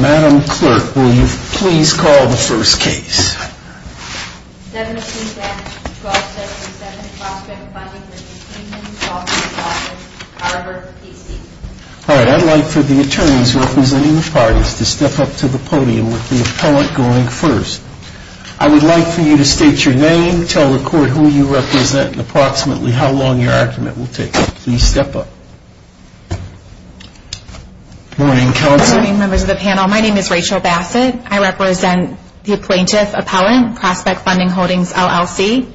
Madam Clerk, will you please call the first case? 7th Appeals Attorney, 12th Session, 7th Prospect Funding v. Keenan, Saulter & Saulter Tarver PC All right, I'd like for the attorneys representing the parties to step up to the podium with the appellant going first. I would like for you to state your name, tell the court who you represent and approximately how long your argument will take. Please step up. Good morning, counsel. Good morning, members of the panel. My name is Rachel Bassett. I represent the plaintiff, appellant, Prospect Funding Holdings, LLC.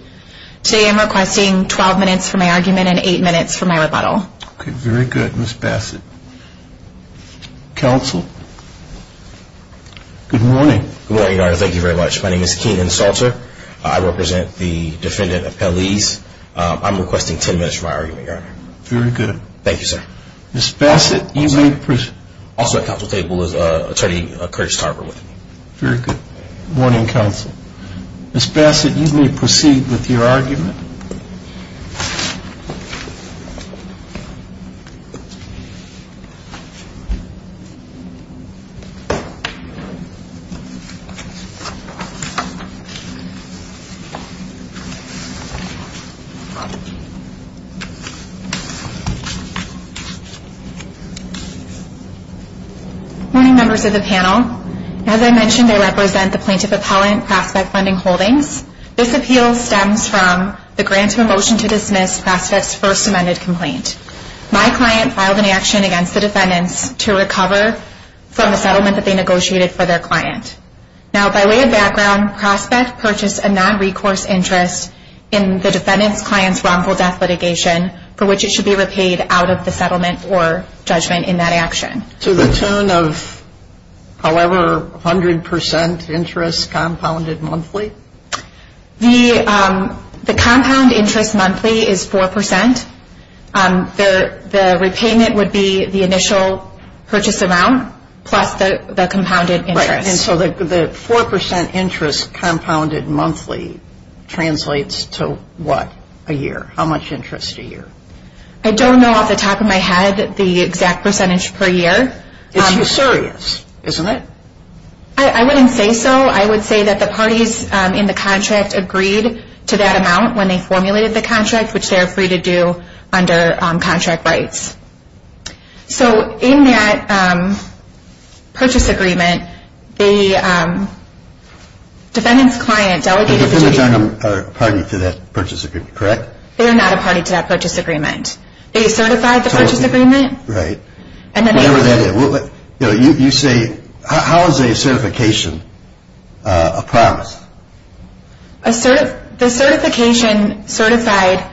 Today I'm requesting 12 minutes for my argument and 8 minutes for my rebuttal. Very good, Ms. Bassett. Counsel? Good morning. Good morning, Your Honor. Thank you very much. My name is Keenan, Saulter. I represent the defendant, appellees. I'm requesting 10 minutes for my argument, Your Honor. Very good. Thank you, sir. Ms. Bassett, you may proceed. Also at counsel's table is Attorney Curtis Tarver with me. Very good. Good morning, counsel. Ms. Bassett, you may proceed with your argument. Good morning, members of the panel. As I mentioned, I represent the plaintiff, appellant, Prospect Funding Holdings. This appeal stems from the grant to a motion to dismiss Prospect's first amended complaint. My client filed an action against the defendants to recover from the settlement that they negotiated for their client. Now, by way of background, Prospect purchased a non-recourse interest in the defendant's client's wrongful death litigation for which it should be repaid out of the settlement or judgment in that action. To the tune of, however, 100% interest compounded monthly? The compound interest monthly is 4%. The repayment would be the initial purchase amount plus the compounded interest. Right, and so the 4% interest compounded monthly translates to what a year? How much interest a year? I don't know off the top of my head the exact percentage per year. It's usurious, isn't it? I wouldn't say so. I would say that the parties in the contract agreed to that amount when they formulated the contract, which they are free to do under contract rights. So in that purchase agreement, the defendant's client delegated the... The defendants aren't a party to that purchase agreement, correct? They are not a party to that purchase agreement. They certified the purchase agreement. Right. You say, how is a certification a promise? The certification certified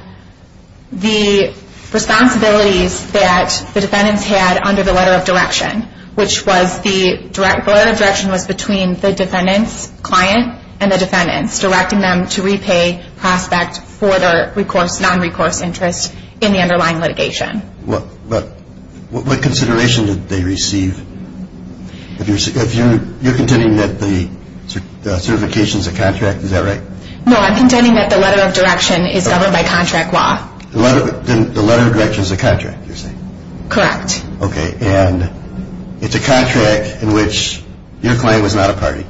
the responsibilities that the defendants had under the letter of direction, which was the letter of direction was between the defendant's client and the defendants, directing them to repay prospect for their non-recourse interest in the underlying litigation. But what consideration did they receive? You're contending that the certification is a contract, is that right? No, I'm contending that the letter of direction is governed by contract law. The letter of direction is a contract, you're saying? Correct. Okay, and it's a contract in which your client was not a party.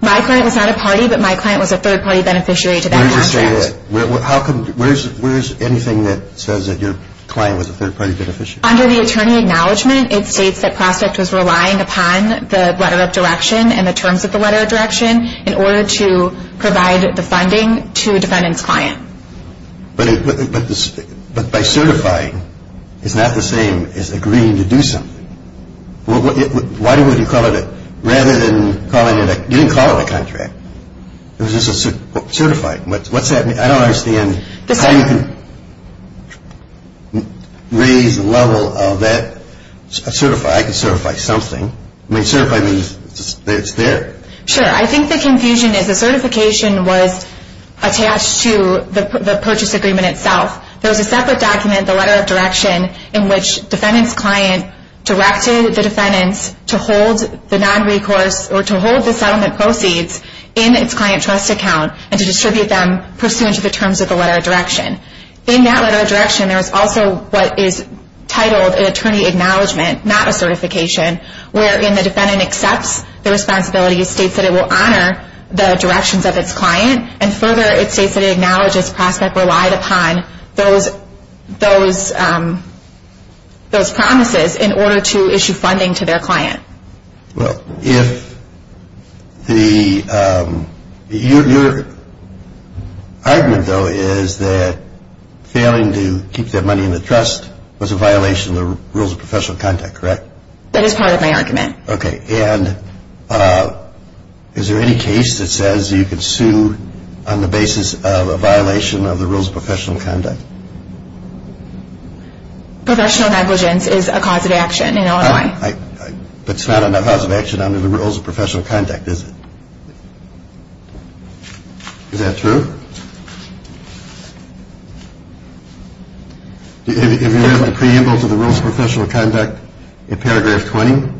My client was not a party, but my client was a third-party beneficiary to that contract. Where does it say that? Where is anything that says that your client was a third-party beneficiary? Under the attorney acknowledgment, it states that prospect was relying upon the letter of direction and the terms of the letter of direction in order to provide the funding to a defendant's client. But by certifying, it's not the same as agreeing to do something. Why would you call it a, rather than calling it a, you didn't call it a contract. It was just a certified. What's that mean? I don't understand how you can raise the level of that. Certify, I can certify something. I mean, certify means it's there. Sure. I think the confusion is the certification was attached to the purchase agreement itself. There was a separate document, the letter of direction, in which defendant's client directed the defendant to hold the settlement proceeds in its client trust account and to distribute them pursuant to the terms of the letter of direction. In that letter of direction, there is also what is titled an attorney acknowledgment, not a certification, wherein the defendant accepts the responsibility, states that it will honor the directions of its client, and further, it states that it acknowledges prospect relied upon those promises in order to issue funding to their client. Well, if the, your argument, though, is that failing to keep that money in the trust was a violation of the rules of professional conduct, correct? That is part of my argument. Okay. And is there any case that says you can sue on the basis of a violation of the rules of professional conduct? Professional negligence is a cause of action in Illinois. But it's not a cause of action under the rules of professional conduct, is it? Is that true? If you read the preamble to the rules of professional conduct in paragraph 20,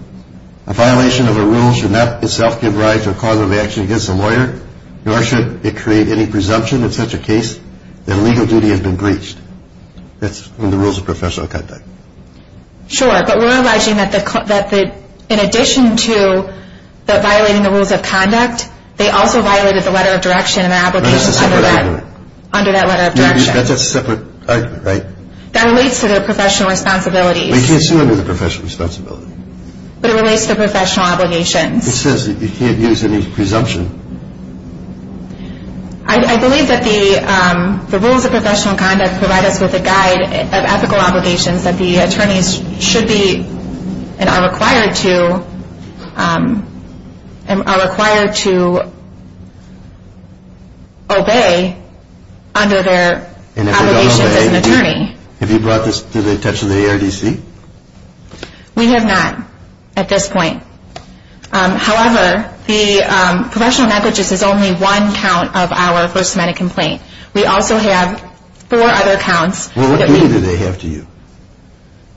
a violation of a rule should not itself give rise to a cause of action against a lawyer, nor should it create any presumption in such a case that legal duty has been breached. That's in the rules of professional conduct. Sure, but we're alleging that in addition to violating the rules of conduct, they also violated the letter of direction in their application under that letter of direction. That's a separate argument, right? That relates to their professional responsibilities. But you can't sue under the professional responsibility. But it relates to professional obligations. It says that you can't use any presumption. I believe that the rules of professional conduct provide us with a guide of ethical obligations that the attorneys should be and are required to obey under their obligations as an attorney. Have you brought this to the attention of the ARDC? We have not at this point. However, the professional negligence is only one count of our First Amendment complaint. We also have four other counts. Well, what duty do they have to you?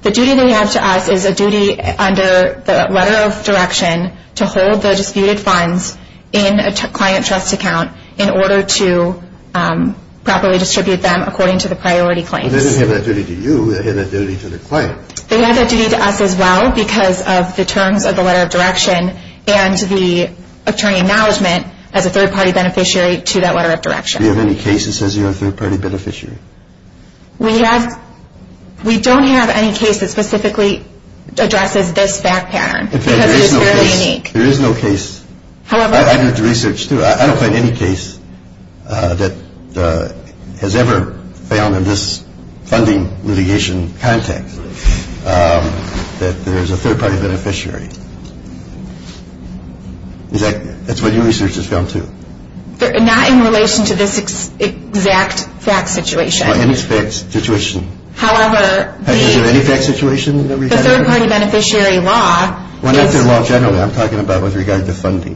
The duty they have to us is a duty under the letter of direction to hold the disputed funds in a client trust account in order to properly distribute them according to the priority claims. They didn't have that duty to you. They had that duty to the client. They had that duty to us as well because of the terms of the letter of direction and the attorney acknowledgement as a third-party beneficiary to that letter of direction. Do you have any case that says you're a third-party beneficiary? We don't have any case that specifically addresses this fact pattern because it is fairly unique. There is no case. I did the research, too. I don't find any case that has ever found in this funding litigation context that there's a third-party beneficiary. That's what your research has found, too. Not in relation to this exact fact situation. In this situation. However, the third-party beneficiary law... Well, not the law generally. I'm talking about with regard to funding.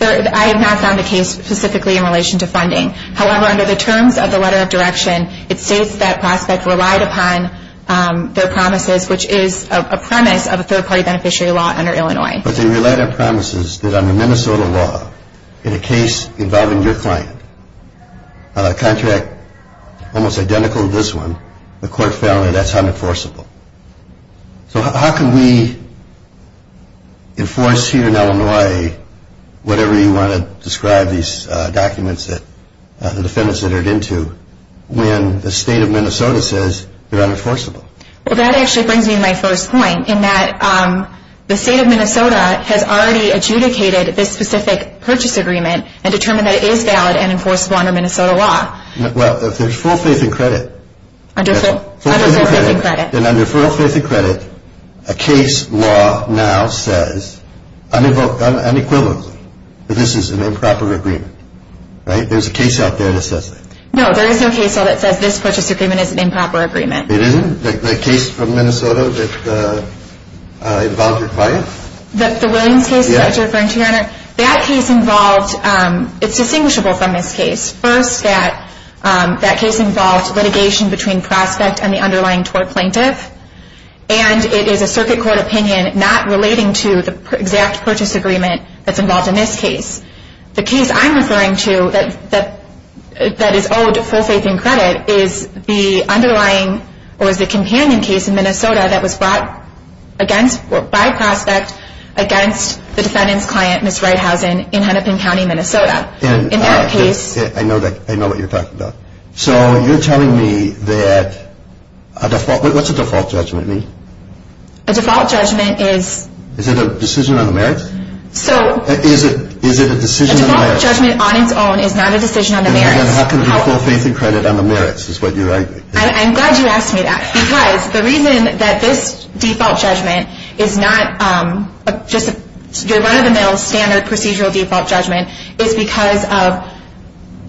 I have not found a case specifically in relation to funding. However, under the terms of the letter of direction, it states that Prospect relied upon their promises, which is a premise of a third-party beneficiary law under Illinois. But they relied on promises that under Minnesota law, in a case involving your client, a contract almost identical to this one, the court found that that's unenforceable. So how can we enforce here in Illinois whatever you want to describe these documents, the defendants entered into, when the state of Minnesota says they're unenforceable? Well, that actually brings me to my first point, in that the state of Minnesota has already adjudicated this specific purchase agreement and determined that it is valid and enforceable under Minnesota law. Well, if there's full faith and credit... Under full faith and credit. Then under full faith and credit, a case law now says unequivocally that this is an improper agreement. Right? There's a case out there that says that. No, there is no case law that says this purchase agreement is an improper agreement. It isn't? The case from Minnesota that involved your client? The Williams case that you're referring to, Your Honor? Yeah. That case involved, it's distinguishable from this case. First, that case involved litigation between prospect and the underlying tort plaintiff. And it is a circuit court opinion not relating to the exact purchase agreement that's involved in this case. The case I'm referring to, that is owed full faith and credit, is the underlying, or is the companion case in Minnesota that was brought by prospect against the defendant's client, Ms. Reithausen, in Hennepin County, Minnesota. In that case... I know what you're talking about. So you're telling me that a default, what's a default judgment mean? A default judgment is... Is it a decision on the merits? So... Is it a decision on the merits? A default judgment on its own is not a decision on the merits. Then how can it be full faith and credit on the merits, is what you're arguing? I'm glad you asked me that. Because the reason that this default judgment is not just your run-of-the-mill standard procedural default judgment is because of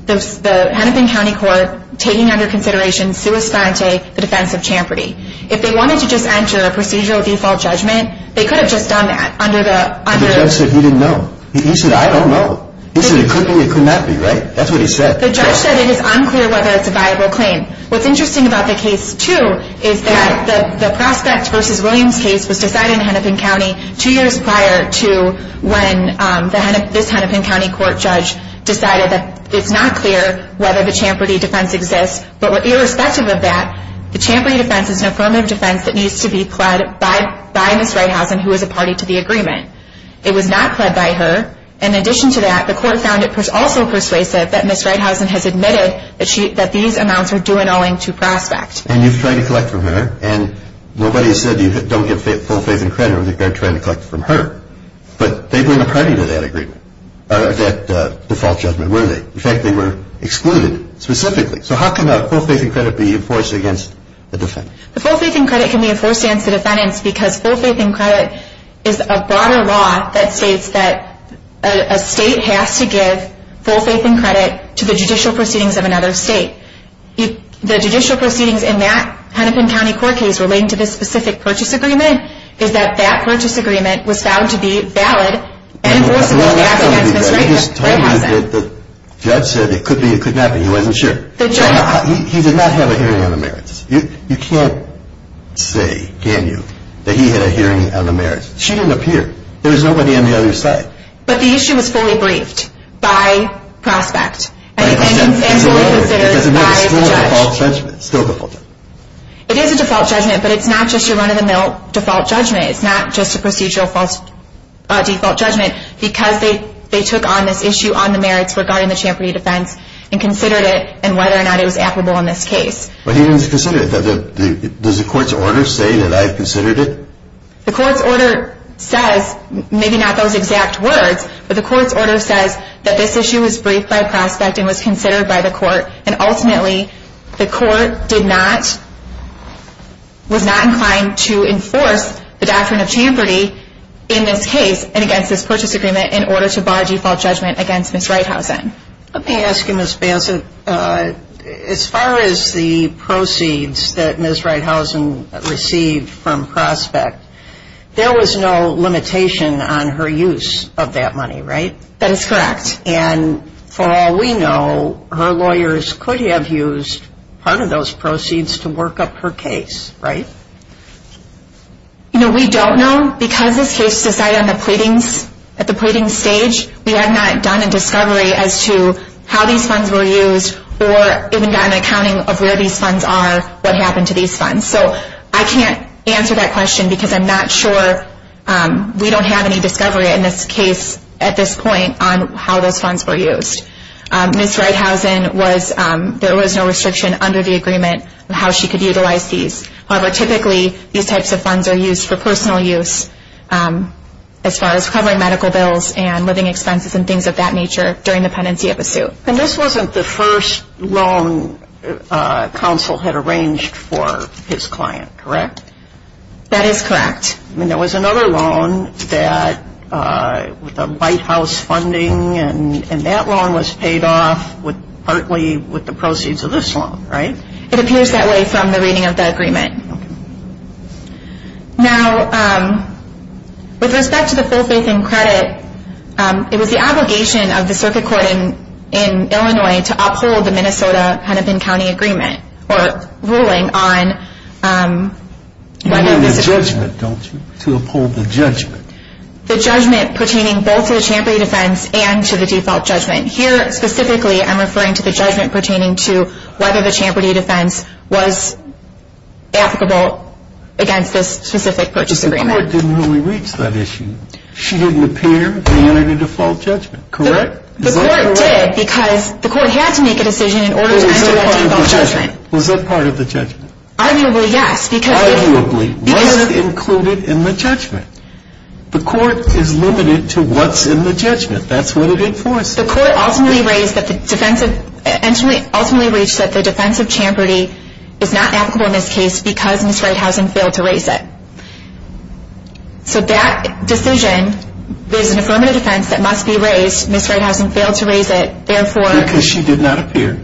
the Hennepin County Court taking under consideration sui sciente, the defense of champerty. If they wanted to just enter a procedural default judgment, they could have just done that under the... The judge said he didn't know. He said, I don't know. He said it could be, it could not be, right? That's what he said. The judge said it is unclear whether it's a viable claim. What's interesting about the case, too, is that the prospect versus Williams case was decided in Hennepin County two years prior to when this Hennepin County Court judge decided that it's not clear whether the champerty defense exists. But irrespective of that, the champerty defense is an affirmative defense that needs to be pled by Ms. Reithausen, who is a party to the agreement. It was not pled by her. In addition to that, the court found it also persuasive that Ms. Reithausen has admitted that these amounts are due and owing to prospect. And you've tried to collect from her. And nobody said you don't get full faith and credit when you're trying to collect from her. But they've been a party to that agreement, or that default judgment, were they? In fact, they were excluded specifically. So how can the full faith and credit be enforced against the defendant? The full faith and credit can be enforced against the defendants because full faith and credit is a broader law that states that a state has to give full faith and credit to the judicial proceedings of another state. The judicial proceedings in that Hennepin County Court case relating to this specific purchase agreement is that that purchase agreement was found to be valid and enforceable against Ms. Reithausen. I just told you that the judge said it could be, it could not be, he wasn't sure. He did not have a hearing on the merits. You can't say, can you, that he had a hearing on the merits. She didn't appear. There was nobody on the other side. But the issue was fully briefed by prospect. And fully considered by the judge. It's still a default judgment. It is a default judgment, but it's not just your run-of-the-mill default judgment. It's not just a procedural default judgment because they took on this issue on the merits regarding the Champerty defense and considered it and whether or not it was applicable in this case. But he didn't consider it. Does the court's order say that I considered it? The court's order says, maybe not those exact words, but the court's order says that this issue was briefed by prospect and was considered by the court. And ultimately, the court did not, was not inclined to enforce the doctrine of Champerty in this case and against this purchase agreement in order to bar default judgment against Ms. Reithausen. Let me ask you, Ms. Bassett, as far as the proceeds that Ms. Reithausen received from prospect, there was no limitation on her use of that money, right? That is correct. And for all we know, her lawyers could have used part of those proceeds to work up her case, right? No, we don't know. Because this case is decided on the pleadings, at the pleading stage, we have not done a discovery as to how these funds were used or even done an accounting of where these funds are, what happened to these funds. So I can't answer that question because I'm not sure. We don't have any discovery in this case, at this point, on how those funds were used. Ms. Reithausen was, there was no restriction under the agreement on how she could utilize these. However, typically, these types of funds are used for personal use as far as covering medical bills and living expenses and things of that nature during the pendency of a suit. And this wasn't the first loan counsel had arranged for his client, correct? That is correct. And there was another loan that, with the White House funding, and that loan was paid off partly with the proceeds of this loan, right? It appears that way from the reading of the agreement. Okay. Now, with respect to the full faith and credit, it was the obligation of the circuit court in Illinois to uphold the Minnesota-Hennepin County agreement or ruling on whether this agreement... You mean the judgment, don't you? To uphold the judgment. The judgment pertaining both to the Champerty defense and to the default judgment. Here, specifically, I'm referring to the judgment pertaining to whether the Champerty defense was applicable against this specific purchase agreement. But the court didn't really reach that issue. She didn't appear to enter the default judgment, correct? The court did because the court had to make a decision in order to enter the default judgment. Was that part of the judgment? Arguably, yes. Arguably. Was it included in the judgment? The court is limited to what's in the judgment. That's what it enforces. The court ultimately reached that the defense of Champerty is not applicable in this case because Ms. Reithausen failed to raise it. So that decision, there's an affirmative defense that must be raised. Ms. Reithausen failed to raise it. Because she did not appear.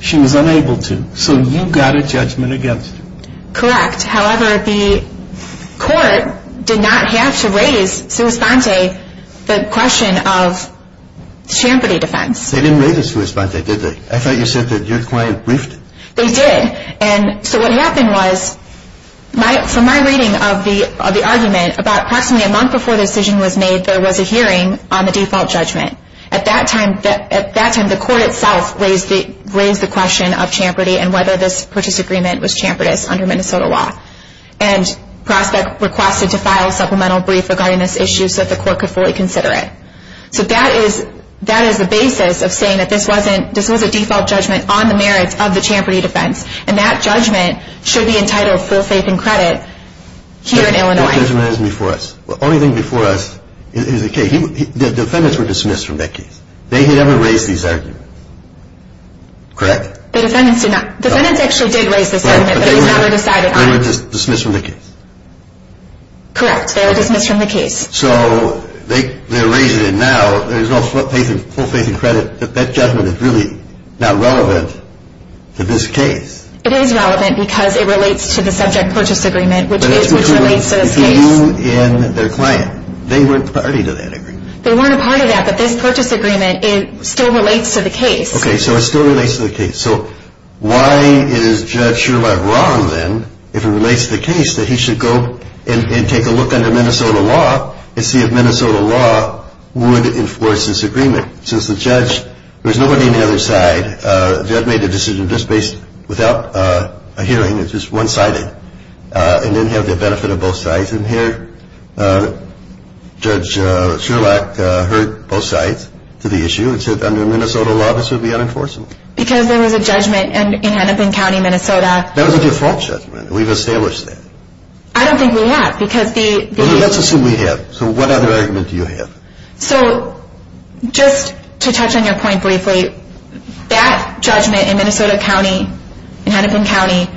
She was unable to. So you got a judgment against her. Correct. However, the court did not have to raise sua sponte the question of Champerty defense. They didn't raise it sua sponte, did they? I thought you said that your client briefed it. They did. And so what happened was, from my reading of the argument, about approximately a month before the decision was made, there was a hearing on the default judgment. At that time, the court itself raised the question of Champerty and whether this purchase agreement was Champerty under Minnesota law. And Prospect requested to file a supplemental brief regarding this issue so that the court could fully consider it. So that is the basis of saying that this was a default judgment on the merits of the Champerty defense. And that judgment should be entitled full faith and credit here in Illinois. No judgment is before us. The only thing before us is the case. The defendants were dismissed from that case. They had never raised these arguments. Correct? The defendants actually did raise this argument, but it was never decided on. They were dismissed from the case. Correct. They were dismissed from the case. So they're raising it now. There's no full faith and credit. That judgment is really not relevant to this case. It is relevant because it relates to the subject purchase agreement, which relates to this case. They weren't a party to that agreement. They weren't a part of that, but this purchase agreement still relates to the case. Okay, so it still relates to the case. So why is Judge Sherlock wrong then, if it relates to the case, that he should go and take a look under Minnesota law and see if Minnesota law would enforce this agreement? Since the judge, there's nobody on the other side, the judge made the decision just based without a hearing, it's just one-sided, and didn't have the benefit of both sides. And here, Judge Sherlock heard both sides to the issue and said under Minnesota law this would be unenforceable. Because there was a judgment in Hennepin County, Minnesota. That was a default judgment. We've established that. I don't think we have, because the... Let's assume we have. So what other argument do you have? So, just to touch on your point briefly, that judgment in Minnesota County, in Hennepin County,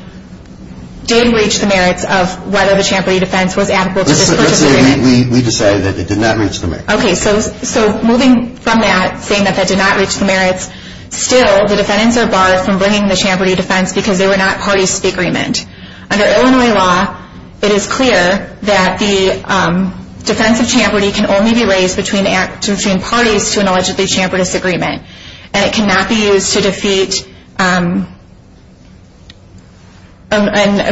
did reach the merits of whether the Champerty defense was adequate to this purchase agreement. Let's say we decided that it did not reach the merits. Okay, so moving from that, saying that that did not reach the merits, still the defendants are barred from bringing the Champerty defense because they were not parties to the agreement. Under Illinois law, it is clear that the defense of Champerty can only be raised between parties to an allegedly Champerty disagreement. And it cannot be used to defeat and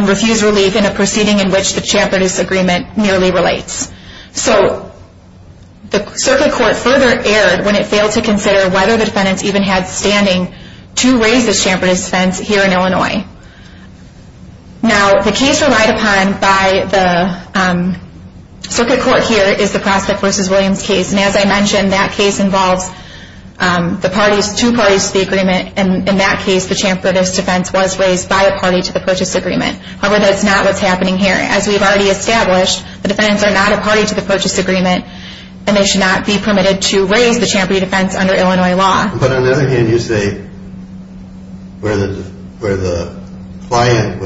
refuse relief in a proceeding in which the Champerty disagreement merely relates. So, the circuit court further erred when it failed to consider whether the defendants even had standing to raise the Champerty defense here in Illinois. Now, the case relied upon by the circuit court here is the Prospect v. Williams case. And as I mentioned, that case involves two parties to the agreement. In that case, the Champerty defense was raised by a party to the purchase agreement. However, that's not what's happening here. As we've already established, the defendants are not a party to the purchase agreement and they should not be permitted to raise the Champerty defense under Illinois law. But on the other hand, you say where the client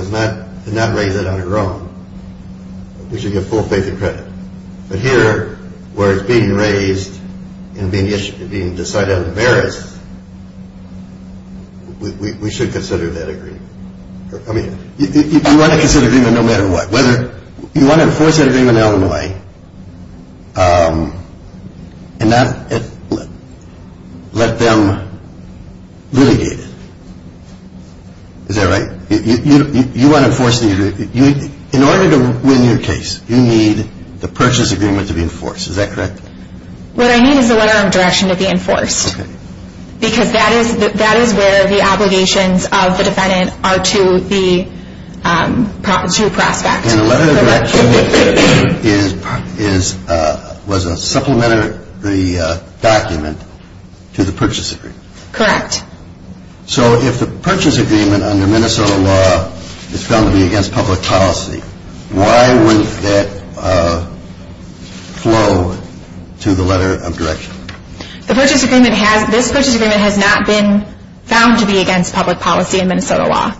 did not raise it on her own, we should give full faith and credit. But here, where it's being raised and being decided on the merits, we should consider that agreement. You want to consider the agreement no matter what. You want to enforce that agreement in Illinois and not let them litigate it. Is that right? You want to enforce the agreement. In order to win your case, you need the purchase agreement to be enforced. Is that correct? What I need is the letter of direction to be enforced. Because that is where the obligations of the defendant are to the prospect. And the letter of direction was a supplementary document to the purchase agreement. Correct. So if the purchase agreement under Minnesota law is found to be against public policy, why would that flow to the letter of direction? This purchase agreement has not been found to be against public policy in Minnesota law.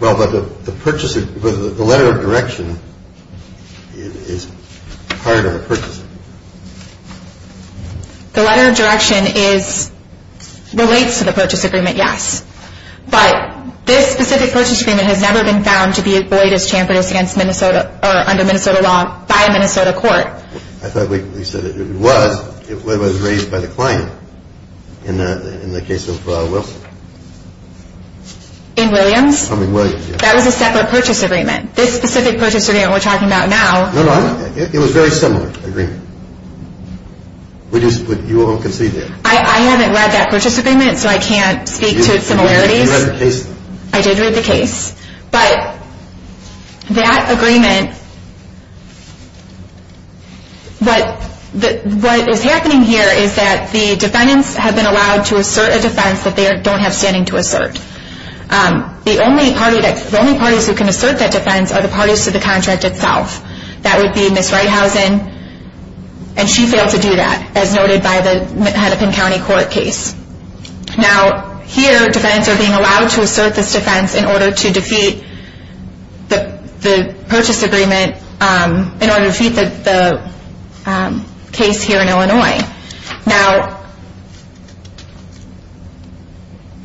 But the letter of direction is part of the purchase agreement. The letter of direction relates to the purchase agreement, yes. But this specific purchase agreement has never been found to be void as chambered as against Minnesota or under Minnesota law by a Minnesota court. I thought we said it was. It was raised by the client in the case of Wilson. In Williams? That was a separate purchase agreement. This specific purchase agreement we're talking about now. No, no. It was a very similar agreement. You all can see there. I haven't read that purchase agreement, so I can't speak to similarities. You read the case, though. I did read the case. But that agreement, what is happening here is that the defendants have been allowed to assert a defense that they don't have standing to assert. The only parties who can assert that defense are the parties to the contract itself. That would be Ms. Reithausen. And she failed to do that, as noted by the Hennepin County Court case. Now, here defendants are being allowed to assert this defense in order to defeat the purchase agreement, Now,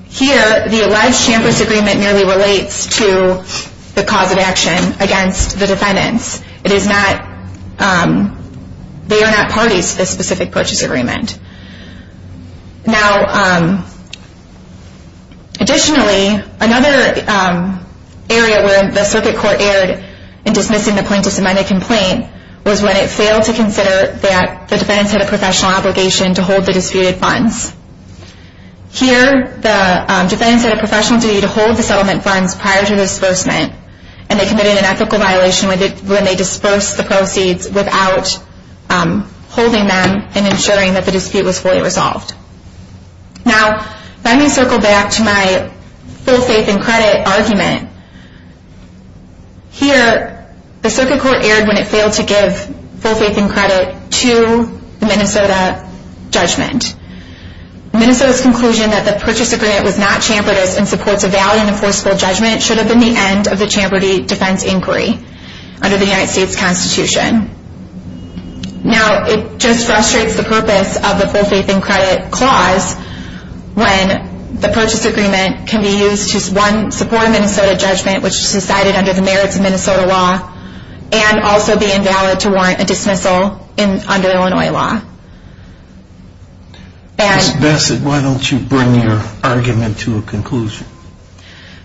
here the alleged shamless agreement merely relates to the cause of action against the defendants. It is not, they are not parties to this specific purchase agreement. Now, additionally, another area where the circuit court erred in dismissing the plaintiff's amended complaint was when it failed to consider that the defendants had a professional obligation to hold the disputed funds. Here, the defendants had a professional duty to hold the settlement funds prior to the disbursement, and they committed an ethical violation when they disbursed the proceeds without holding them and ensuring that the dispute was fully resolved. Now, let me circle back to my full faith in credit argument. Here, the circuit court erred when it failed to give full faith in credit to the Minnesota judgment. Minnesota's conclusion that the purchase agreement was not chamfered and supports a valid and enforceable judgment should have been the end of the chamfered defense inquiry under the United States Constitution. Now, it just frustrates the purpose of the full faith in credit clause when the purchase agreement can be used to support a Minnesota judgment which is decided under the merits of Minnesota law and also be invalid to warrant a dismissal under Illinois law. Ms. Bassett, why don't you bring your argument to a conclusion?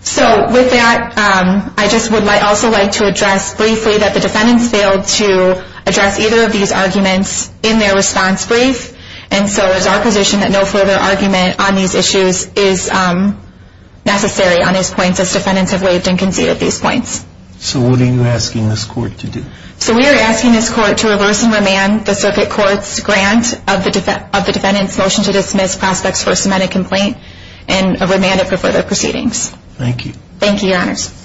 So, with that, I would also like to address briefly that the defendants failed to address either of these arguments in their response brief, and so it is our position that no further argument on these issues is necessary on these points as defendants have waived and conceded these points. So, what are you asking this court to do? So, we are asking this court to reverse and remand the circuit court's grant of the defendant's motion to dismiss prospects for a cemented complaint and remand it for further proceedings. Thank you. Thank you, Your Honors. Thank you.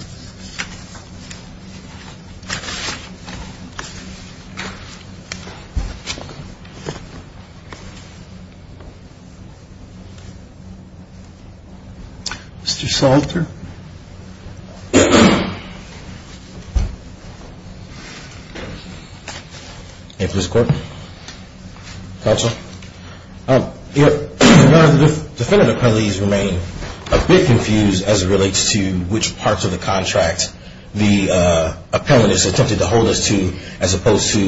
Mr. Salter. Thank you, Mr. Court. Counsel. Your Honor, the defendant appellees remain a bit confused as it relates to which parts of the contract the appellant has attempted to hold us to as opposed to,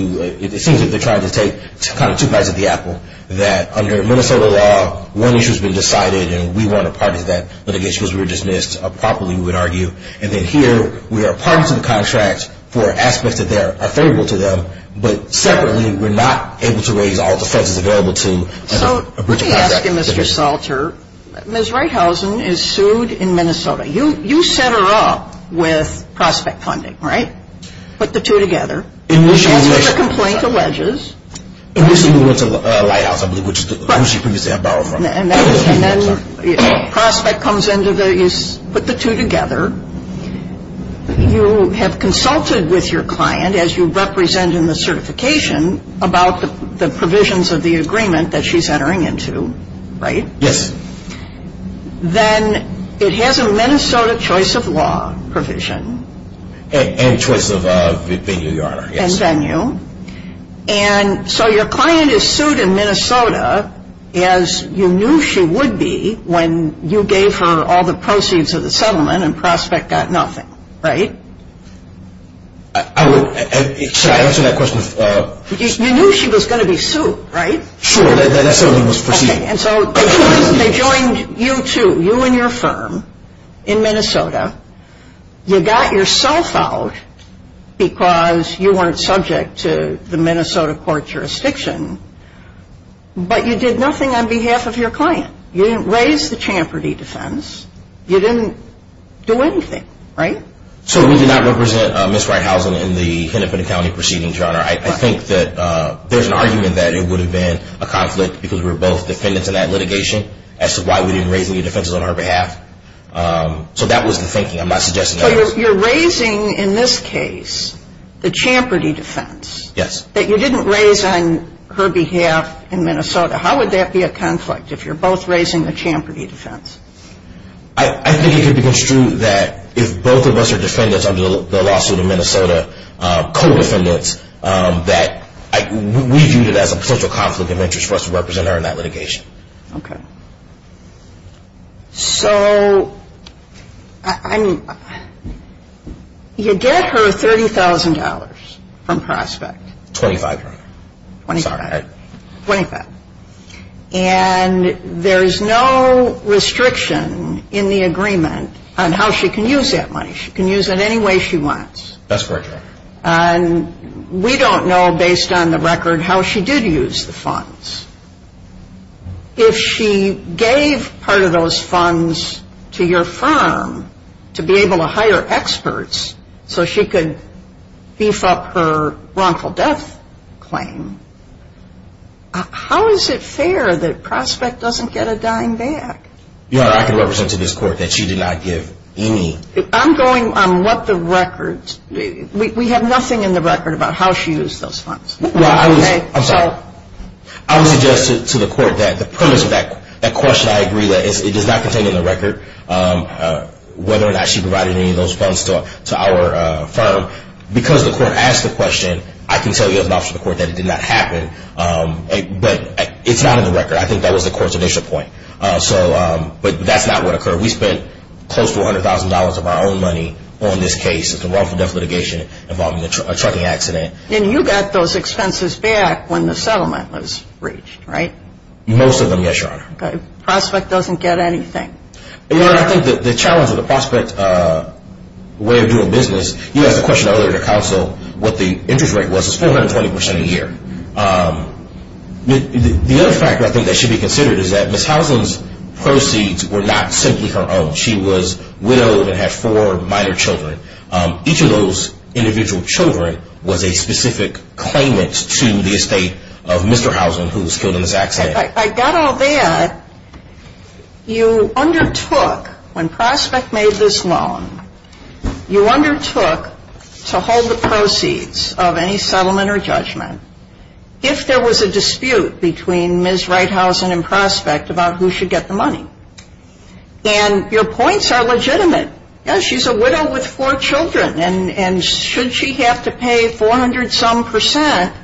it seems like they're trying to take kind of two bites of the apple, that under Minnesota law, one issue has been decided and we weren't a part of that, but I guess because we were dismissed properly, we would argue. And then here, we are a part of the contract for aspects that are favorable to them, but separately, we're not able to raise all the fences available to a breach of contract. So, let me ask you, Mr. Salter, Ms. Reithausen is sued in Minnesota. You set her up with prospect funding, right? Put the two together. Initially, Ms. Reithausen. She wants to make a complaint to wedges. Initially, we went to Lighthouse, I believe, which is the agency previously I borrowed from. And then prospect comes into the, you put the two together. You have consulted with your client as you represent in the certification about the provisions of the agreement that she's entering into, right? Yes. Then it has a Minnesota choice of law provision. And choice of venue, Your Honor. And venue. And so your client is sued in Minnesota as you knew she would be when you gave her all the proceeds of the settlement and prospect got nothing, right? I would, should I answer that question? You knew she was going to be sued, right? Sure, that settlement was proceeding. And so they joined you too, you and your firm in Minnesota. You got yourself out because you weren't subject to the Minnesota court jurisdiction, but you did nothing on behalf of your client. You didn't raise the Champerty defense. You didn't do anything, right? So we did not represent Ms. Reithausen in the Hennepin County proceeding, Your Honor. I think that there's an argument that it would have been a conflict because we were both defendants in that litigation as to why we didn't raise any defenses on her behalf. So that was the thinking. I'm not suggesting that. So you're raising in this case the Champerty defense. Yes. That you didn't raise on her behalf in Minnesota. How would that be a conflict if you're both raising the Champerty defense? I think it could be construed that if both of us are defendants under the lawsuit in Minnesota, co-defendants, that we viewed it as a potential conflict of interest for us to represent her in that litigation. Okay. So, I mean, you get her $30,000 from Prospect. $25,000, Your Honor. $25,000. Sorry. $25,000. And there's no restriction in the agreement on how she can use that money. She can use it any way she wants. That's correct, Your Honor. And we don't know, based on the record, how she did use the funds. If she gave part of those funds to your firm to be able to hire experts so she could beef up her wrongful death claim, how is it fair that Prospect doesn't get a dying bag? Your Honor, I can represent to this Court that she did not give any. I'm going on what the record. We have nothing in the record about how she used those funds. Well, I would suggest to the Court that the premise of that question, I agree, that it does not contain in the record whether or not she provided any of those funds to our firm. Because the Court asked the question, I can tell you as an officer of the Court that it did not happen. But it's not in the record. I think that was the Court's initial point. But that's not what occurred. We spent close to $100,000 of our own money on this case. It's a wrongful death litigation involving a trucking accident. And you got those expenses back when the settlement was reached, right? Most of them, yes, Your Honor. Prospect doesn't get anything. Your Honor, I think that the challenge of the Prospect way of doing business, you asked the question earlier to counsel what the interest rate was. It's 420% a year. The other factor I think that should be considered is that Ms. Housen's proceeds were not simply her own. She was widowed and had four minor children. Each of those individual children was a specific claimant to the estate of Mr. Housen who was killed in this accident. I got all that. You undertook, when Prospect made this loan, you undertook to hold the proceeds of any settlement or judgment if there was a dispute between Ms. Wright Housen and Prospect about who should get the money. And your points are legitimate. Yes, she's a widow with four children. And should she have to pay 400-some percent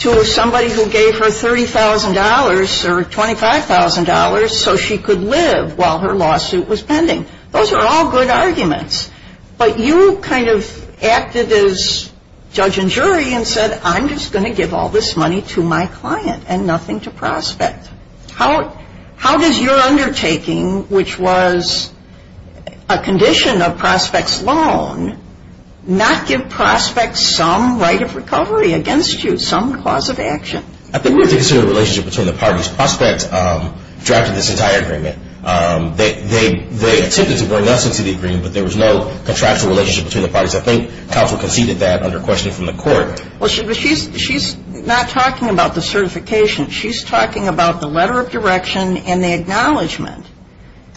to somebody who gave her $30,000 or $25,000 so she could live while her lawsuit was pending? Those are all good arguments. But you kind of acted as judge and jury and said, I'm just going to give all this money to my client and nothing to Prospect. How does your undertaking, which was a condition of Prospect's loan, not give Prospect some right of recovery against you, some cause of action? I think we have to consider the relationship between the parties. Prospect drafted this entire agreement. They attempted to bring us into the agreement, but there was no contractual relationship between the parties. I think counsel conceded that under questioning from the court. Well, she's not talking about the certification. She's talking about the letter of direction and the acknowledgement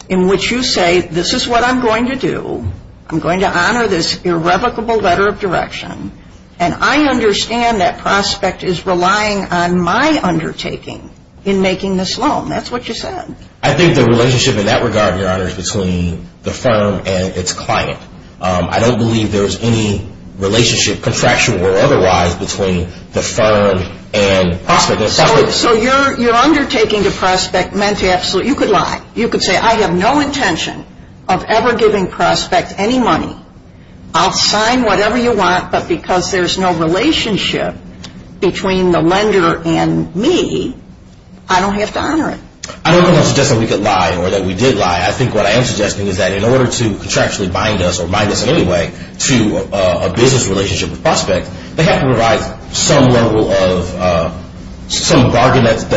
in which you say, this is what I'm going to do. I'm going to honor this irrevocable letter of direction. And I understand that Prospect is relying on my undertaking in making this loan. That's what you said. I think the relationship in that regard, Your Honor, is between the firm and its client. I don't believe there's any relationship, contractual or otherwise, between the firm and Prospect. So your undertaking to Prospect meant you could lie. You could say, I have no intention of ever giving Prospect any money. I'll sign whatever you want, but because there's no relationship between the lender and me, I don't have to honor it. I don't suggest that we could lie or that we did lie. I think what I am suggesting is that in order to contractually bind us or bind us in any way to a business relationship with Prospect, they have to provide some level of some bargain that's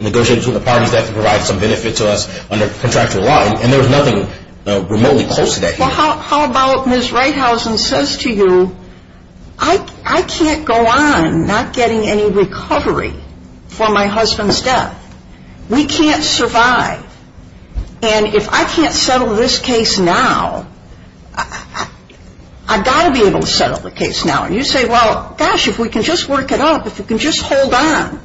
negotiated between the parties. They have to provide some benefit to us under contractual law. And there was nothing remotely close to that here. Well, how about Ms. Reithausen says to you, I can't go on not getting any recovery for my husband's death. We can't survive. And if I can't settle this case now, I've got to be able to settle the case now. And you say, well, gosh, if we can just work it out, if we can just hold on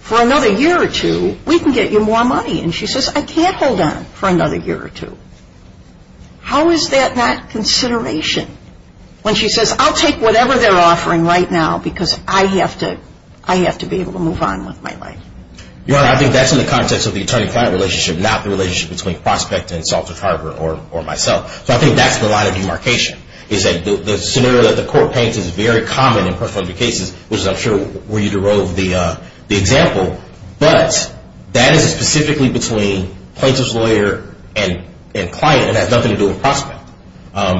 for another year or two, we can get you more money. And she says, I can't hold on for another year or two. How is that not consideration? When she says, I'll take whatever they're offering right now because I have to be able to move on with my life. Your Honor, I think that's in the context of the attorney-client relationship, not the relationship between Prospect and Salt Lake Harbor or myself. So I think that's the line of demarcation is that the scenario that the court paints is very common in personal injury cases, which I'm sure where you drove the example, but that is specifically between plaintiff's lawyer and client and has nothing to do with Prospect.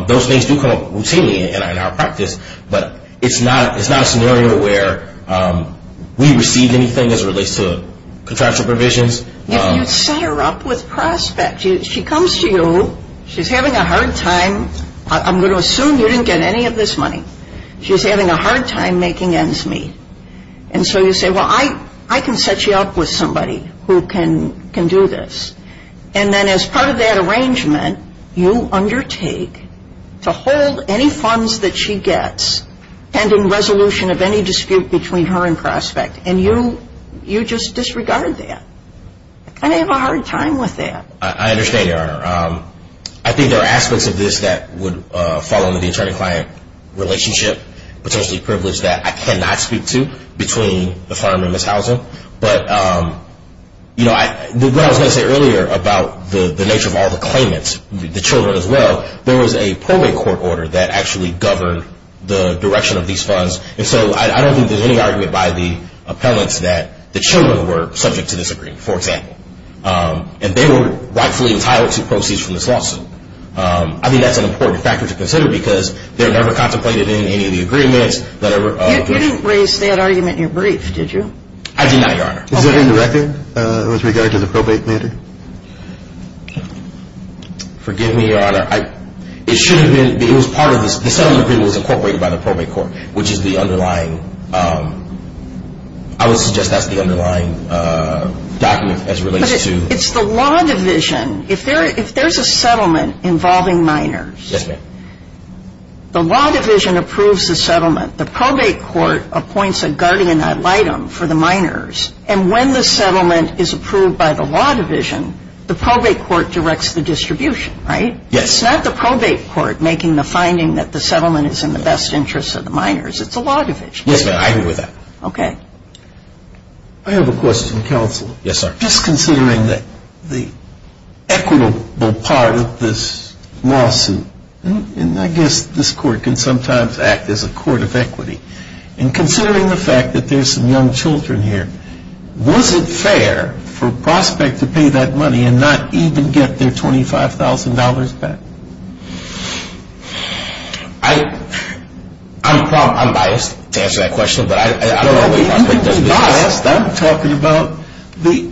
Those things do come up routinely in our practice, but it's not a scenario where we receive anything as it relates to contractual provisions. If you set her up with Prospect, she comes to you, she's having a hard time. I'm going to assume you didn't get any of this money. She's having a hard time making ends meet. And so you say, well, I can set you up with somebody who can do this. And then as part of that arrangement, you undertake to hold any funds that she gets, pending resolution of any dispute between her and Prospect, and you just disregard that. I have a hard time with that. I understand, Your Honor. I think there are aspects of this that would fall under the attorney-client relationship, potentially privileged that I cannot speak to between the firm and Ms. Housen. But, you know, what I was going to say earlier about the nature of all the claimants, the children as well, there was a probate court order that actually governed the direction of these funds. And so I don't think there's any argument by the appellants that the children were subject to this agreement, for example. And they were rightfully entitled to proceeds from this lawsuit. I think that's an important factor to consider because they're never contemplated in any of the agreements. You didn't raise that argument in your brief, did you? I did not, Your Honor. Is there any record with regard to the probate matter? Forgive me, Your Honor. It should have been. It was part of this. The settlement agreement was incorporated by the probate court, which is the underlying. I would suggest that's the underlying document as it relates to. But it's the law division. If there's a settlement involving minors. Yes, ma'am. The law division approves the settlement. The probate court appoints a guardian ad litem for the minors. And when the settlement is approved by the law division, the probate court directs the distribution, right? Yes. It's not the probate court making the finding that the settlement is in the best interest of the minors. It's the law division. Yes, ma'am. I agree with that. Okay. I have a question for counsel. Yes, sir. Just considering the equitable part of this lawsuit, and I guess this court can sometimes act as a court of equity, and considering the fact that there's some young children here, was it fair for Prospect to pay that money and not even get their $25,000 back? I'm biased to answer that question. You've been biased. I'm talking about the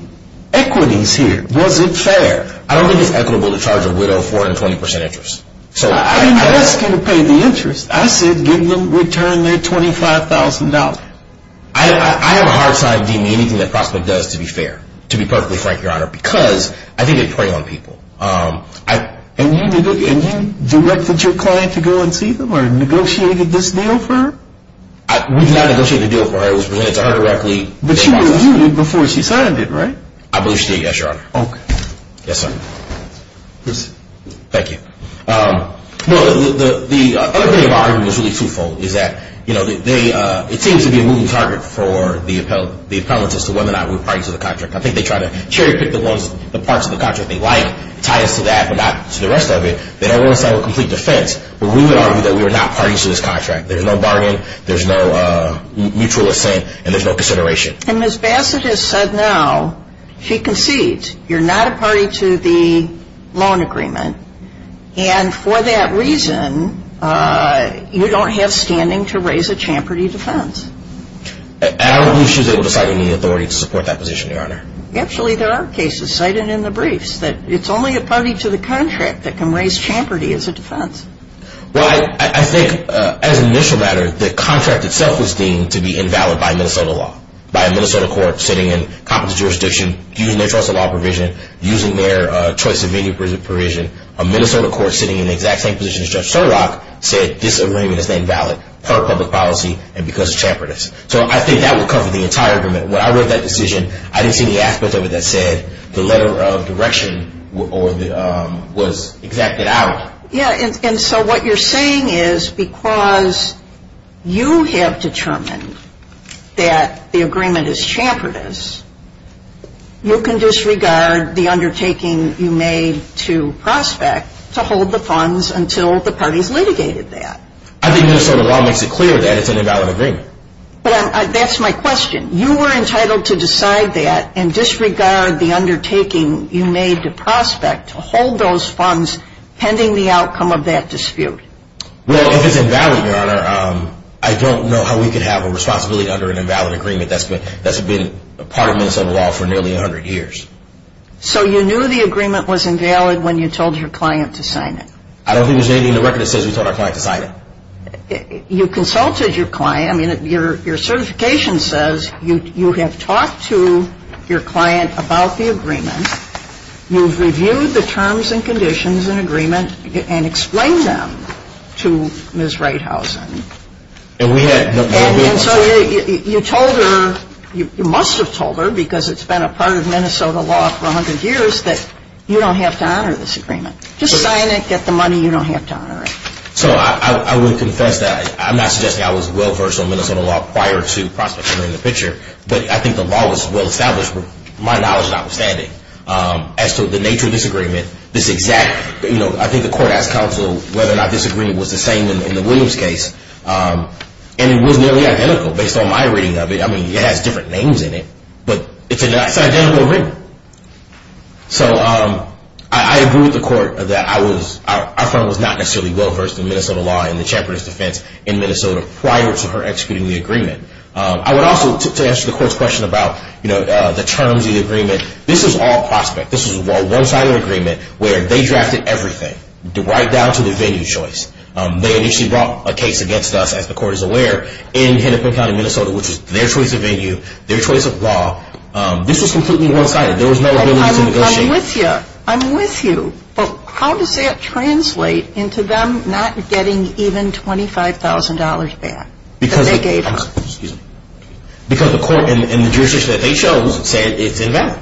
equities here. Was it fair? I don't think it's equitable to charge a widow 420% interest. I didn't ask you to pay the interest. I said give them return their $25,000. I have a hard time deeming anything that Prospect does to be fair, to be perfectly frank, Your Honor, because I think they prey on people. And you directed your client to go and see them or negotiated this deal for her? We did not negotiate the deal for her. It was presented to her directly. But she reviewed it before she signed it, right? I believe she did, yes, Your Honor. Okay. Yes, sir. Please. Thank you. No, the other thing about it was really twofold is that, you know, it seems to be a moving target for the appellants as to whether or not we're parties to the contract. I think they try to cherry pick the parts of the contract they like, tie us to that but not to the rest of it. They don't want to settle a complete defense. But we would argue that we are not parties to this contract. There's no bargain, there's no mutual assent, and there's no consideration. And Ms. Bassett has said now, she concedes, you're not a party to the loan agreement. And for that reason, you don't have standing to raise a Champerty defense. I don't believe she was able to cite any authority to support that position, Your Honor. Actually, there are cases cited in the briefs that it's only a party to the contract that can raise Champerty as a defense. Well, I think, as an initial matter, the contract itself was deemed to be invalid by Minnesota law, by a Minnesota court sitting in competent jurisdiction, using their trust of law provision, using their choice of venue provision. A Minnesota court sitting in the exact same position as Judge Sherlock said, this agreement is invalid per public policy and because of Champerty. So I think that would cover the entire agreement. When I read that decision, I didn't see any aspect of it that said the letter of direction was exacted out. Yeah, and so what you're saying is because you have determined that the agreement is Champerty's, you can disregard the undertaking you made to prospect to hold the funds until the parties litigated that. I think Minnesota law makes it clear that it's an invalid agreement. But that's my question. You were entitled to decide that and disregard the undertaking you made to prospect to hold those funds pending the outcome of that dispute. Well, if it's invalid, Your Honor, I don't know how we could have a responsibility under an invalid agreement that's been a part of Minnesota law for nearly 100 years. So you knew the agreement was invalid when you told your client to sign it? I don't think there's anything in the record that says we told our client to sign it. You consulted your client. I mean, your certification says you have talked to your client about the agreement. You've reviewed the terms and conditions and agreement and explained them to Ms. Reithausen. And so you told her, you must have told her because it's been a part of Minnesota law for 100 years that you don't have to honor this agreement. Just sign it, get the money, you don't have to honor it. So I would confess that I'm not suggesting I was well-versed on Minnesota law prior to prospecting in the picture, but I think the law was well-established with my knowledge notwithstanding. As to the nature of this agreement, this exact, you know, I think the court asked counsel whether or not this agreement was the same in the Williams case, and it was nearly identical based on my reading of it. I mean, it has different names in it, but it's an identical reading. So I agree with the court that our firm was not necessarily well-versed in Minnesota law I would also, to answer the court's question about, you know, the terms of the agreement, this is all prospect. This is a one-sided agreement where they drafted everything right down to the venue choice. They initially brought a case against us, as the court is aware, in Hennepin County, Minnesota, which is their choice of venue, their choice of law. This was completely one-sided. There was no ability to negotiate. I'm with you. But how does that translate into them not getting even $25,000 back that they gave us? Because the court in the jurisdiction that they chose said it's invalid.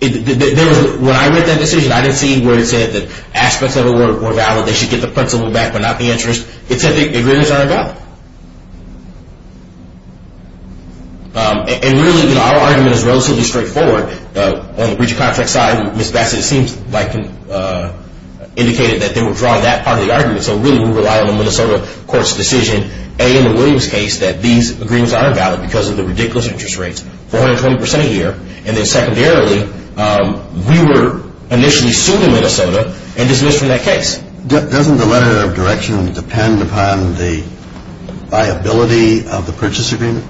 When I read that decision, I didn't see where it said that aspects of it were valid, they should get the principal back but not the interest. It said the agreements aren't valid. And really, you know, our argument is relatively straightforward. On the breach of contract side, Ms. Bassett seems like indicated that they were drawing that part of the argument. So really, we rely on the Minnesota court's decision, A, in the Williams case, that these agreements are invalid because of the ridiculous interest rates, 420% a year. And then secondarily, we were initially sued in Minnesota and dismissed from that case. Doesn't the letter of direction depend upon the viability of the purchase agreement?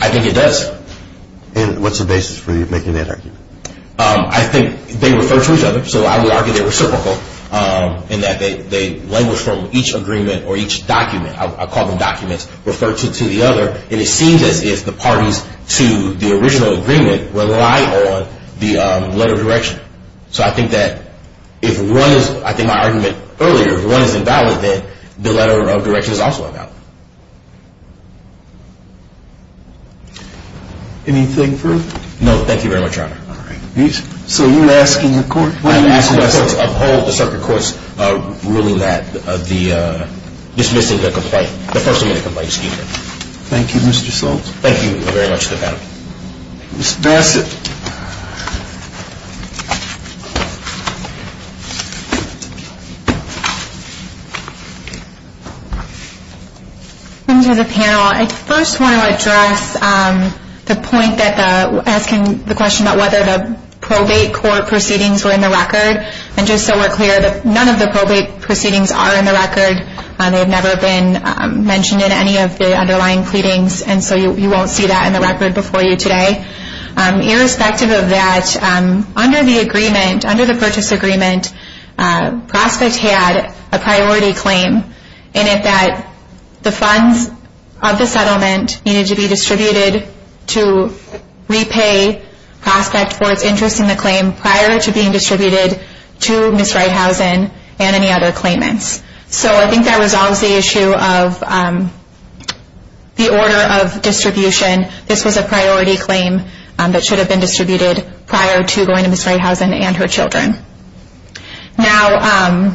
I think it does. And what's the basis for you making that argument? I think they refer to each other. So I would argue they're reciprocal in that they language from each agreement or each document, I'll call them documents, refer to the other. And it seems as if the parties to the original agreement rely on the letter of direction. So I think that if one is, I think my argument earlier, if one is invalid, then the letter of direction is also invalid. Anything further? No. Thank you very much, Your Honor. All right. So you're asking the court? I'm asking the court to uphold the circuit court's ruling that the dismissing the complaint, the person in the complaint is guilty. Thank you, Mr. Soltz. Thank you very much for that. Ms. Bassett. Welcome to the panel. I first want to address the point asking the question about whether the probate court proceedings were in the record. And just so we're clear, none of the probate proceedings are in the record. They've never been mentioned in any of the underlying pleadings. And so you won't see that in the record before you today. Irrespective of that, under the agreement, under the purchase agreement, Prospect had a priority claim in it that the funds of the settlement needed to be distributed to repay Prospect for its interest in the claim prior to being distributed to Ms. Reithausen and any other claimants. So I think that resolves the issue of the order of distribution. This was a priority claim that should have been distributed prior to going to Ms. Reithausen and her children. Now,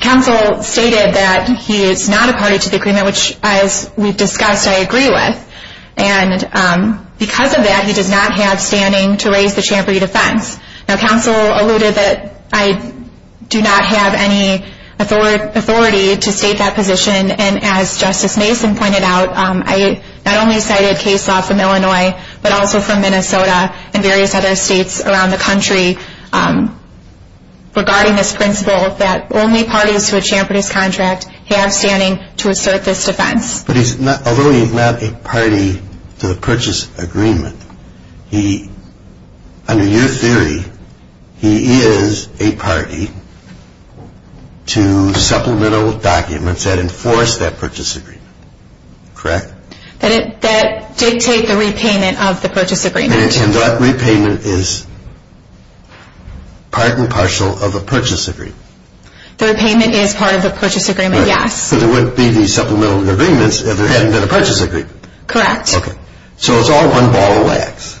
counsel stated that he is not a party to the agreement, which as we've discussed, I agree with. And because of that, he does not have standing to raise the Champery defense. Now, counsel alluded that I do not have any authority to state that position. And as Justice Mason pointed out, I not only cited case law from Illinois, but also from Minnesota and various other states around the country regarding this principle that only parties to a Champery's contract have standing to assert this defense. But although he is not a party to the purchase agreement, under your theory, he is a party to supplemental documents that enforce that purchase agreement, correct? That dictate the repayment of the purchase agreement. And that repayment is part and parcel of the purchase agreement. The repayment is part of the purchase agreement, yes. So there wouldn't be the supplemental agreements if there hadn't been a purchase agreement. Correct. Okay. So it's all one ball of wax.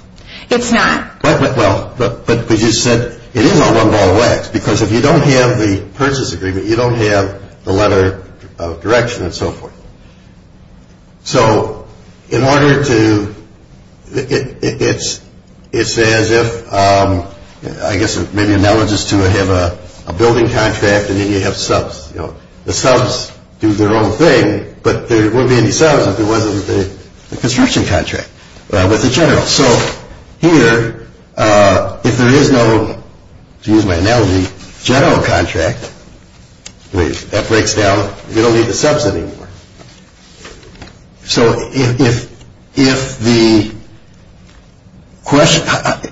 It's not. Well, but you said it is all one ball of wax because if you don't have the purchase agreement, you don't have the letter of direction and so forth. So in order to, it's as if, I guess maybe analogous to have a building contract and then you have subs. You know, the subs do their own thing, but there wouldn't be any subs if there wasn't the construction contract with the general. So here, if there is no, to use my analogy, general contract, that breaks down, you don't need the subs anymore. So if the question,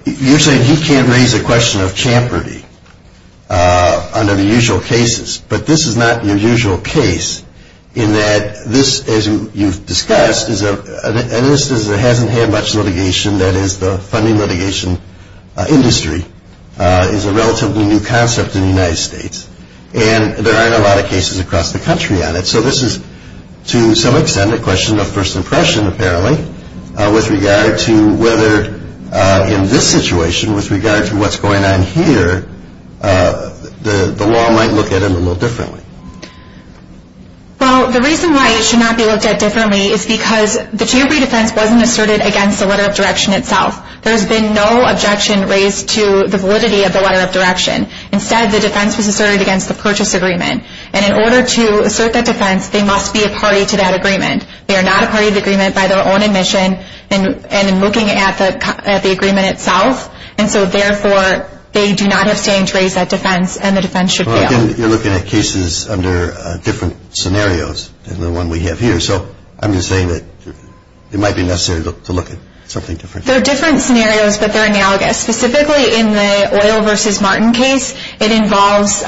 you're saying he can't raise a question of Champerty under the usual cases, but this is not your usual case in that this, as you've discussed, and this hasn't had much litigation, that is the funding litigation industry, is a relatively new concept in the United States. And there aren't a lot of cases across the country on it. So this is, to some extent, a question of first impression, apparently, with regard to whether in this situation, with regard to what's going on here, the law might look at it a little differently. Well, the reason why it should not be looked at differently is because the Champerty defense wasn't asserted against the letter of direction itself. There's been no objection raised to the validity of the letter of direction. Instead, the defense was asserted against the purchase agreement. And in order to assert that defense, they must be a party to that agreement. They are not a party to the agreement by their own admission and in looking at the agreement itself. And so, therefore, they do not have standing to raise that defense, and the defense should fail. Well, again, you're looking at cases under different scenarios than the one we have here. So I'm just saying that it might be necessary to look at something different. They're different scenarios, but they're analogous. Specifically, in the Oil v. Martin case, it involves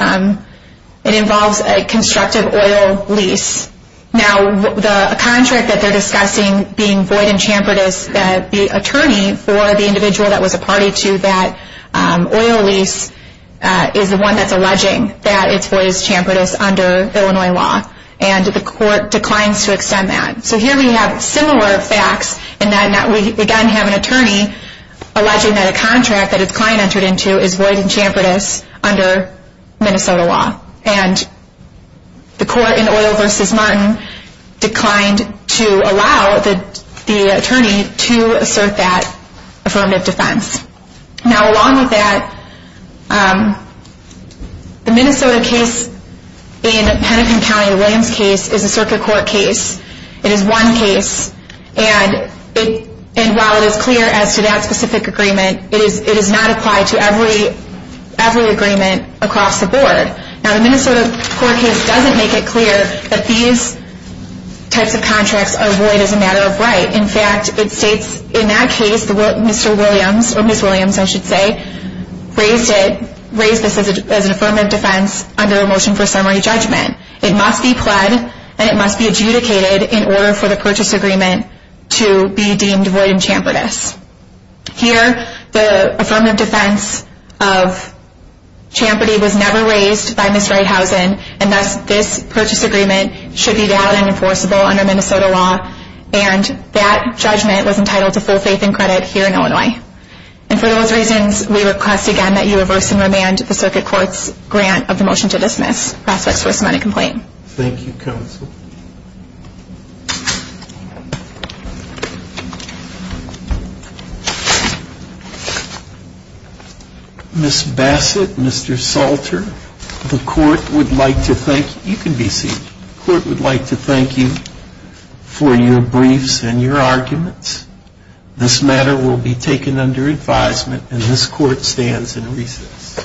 a constructive oil lease. Now, the contract that they're discussing being void in Champerty, the attorney for the individual that was a party to that oil lease is the one that's alleging that it's void in Champerty under Illinois law. And the court declines to extend that. So here we have similar facts in that we, again, have an attorney alleging that a contract that his client entered into is void in Champerty under Minnesota law. And the court in Oil v. Martin declined to allow the attorney to assert that affirmative defense. Now, along with that, the Minnesota case in Penican County, the Williams case, is a circuit court case. It is one case, and while it is clear as to that specific agreement, it does not apply to every agreement across the board. Now, the Minnesota court case doesn't make it clear that these types of contracts are void as a matter of right. In fact, it states in that case, Mr. Williams, or Ms. Williams, I should say, raised this as an affirmative defense under a motion for summary judgment. It must be pled and it must be adjudicated in order for the purchase agreement to be deemed void in Champerty. Here, the affirmative defense of Champerty was never raised by Ms. Reithausen, and thus this purchase agreement should be valid and enforceable under Minnesota law, and that judgment was entitled to full faith and credit here in Illinois. And for those reasons, we request again that you reverse and remand the circuit court's grant of the motion to dismiss. Prospects for a submitted complaint. Thank you, Counsel. Ms. Bassett, Mr. Salter, the court would like to thank you. You can be seated. The court would like to thank you for your briefs and your arguments. This matter will be taken under advisement, and this court stands in recess.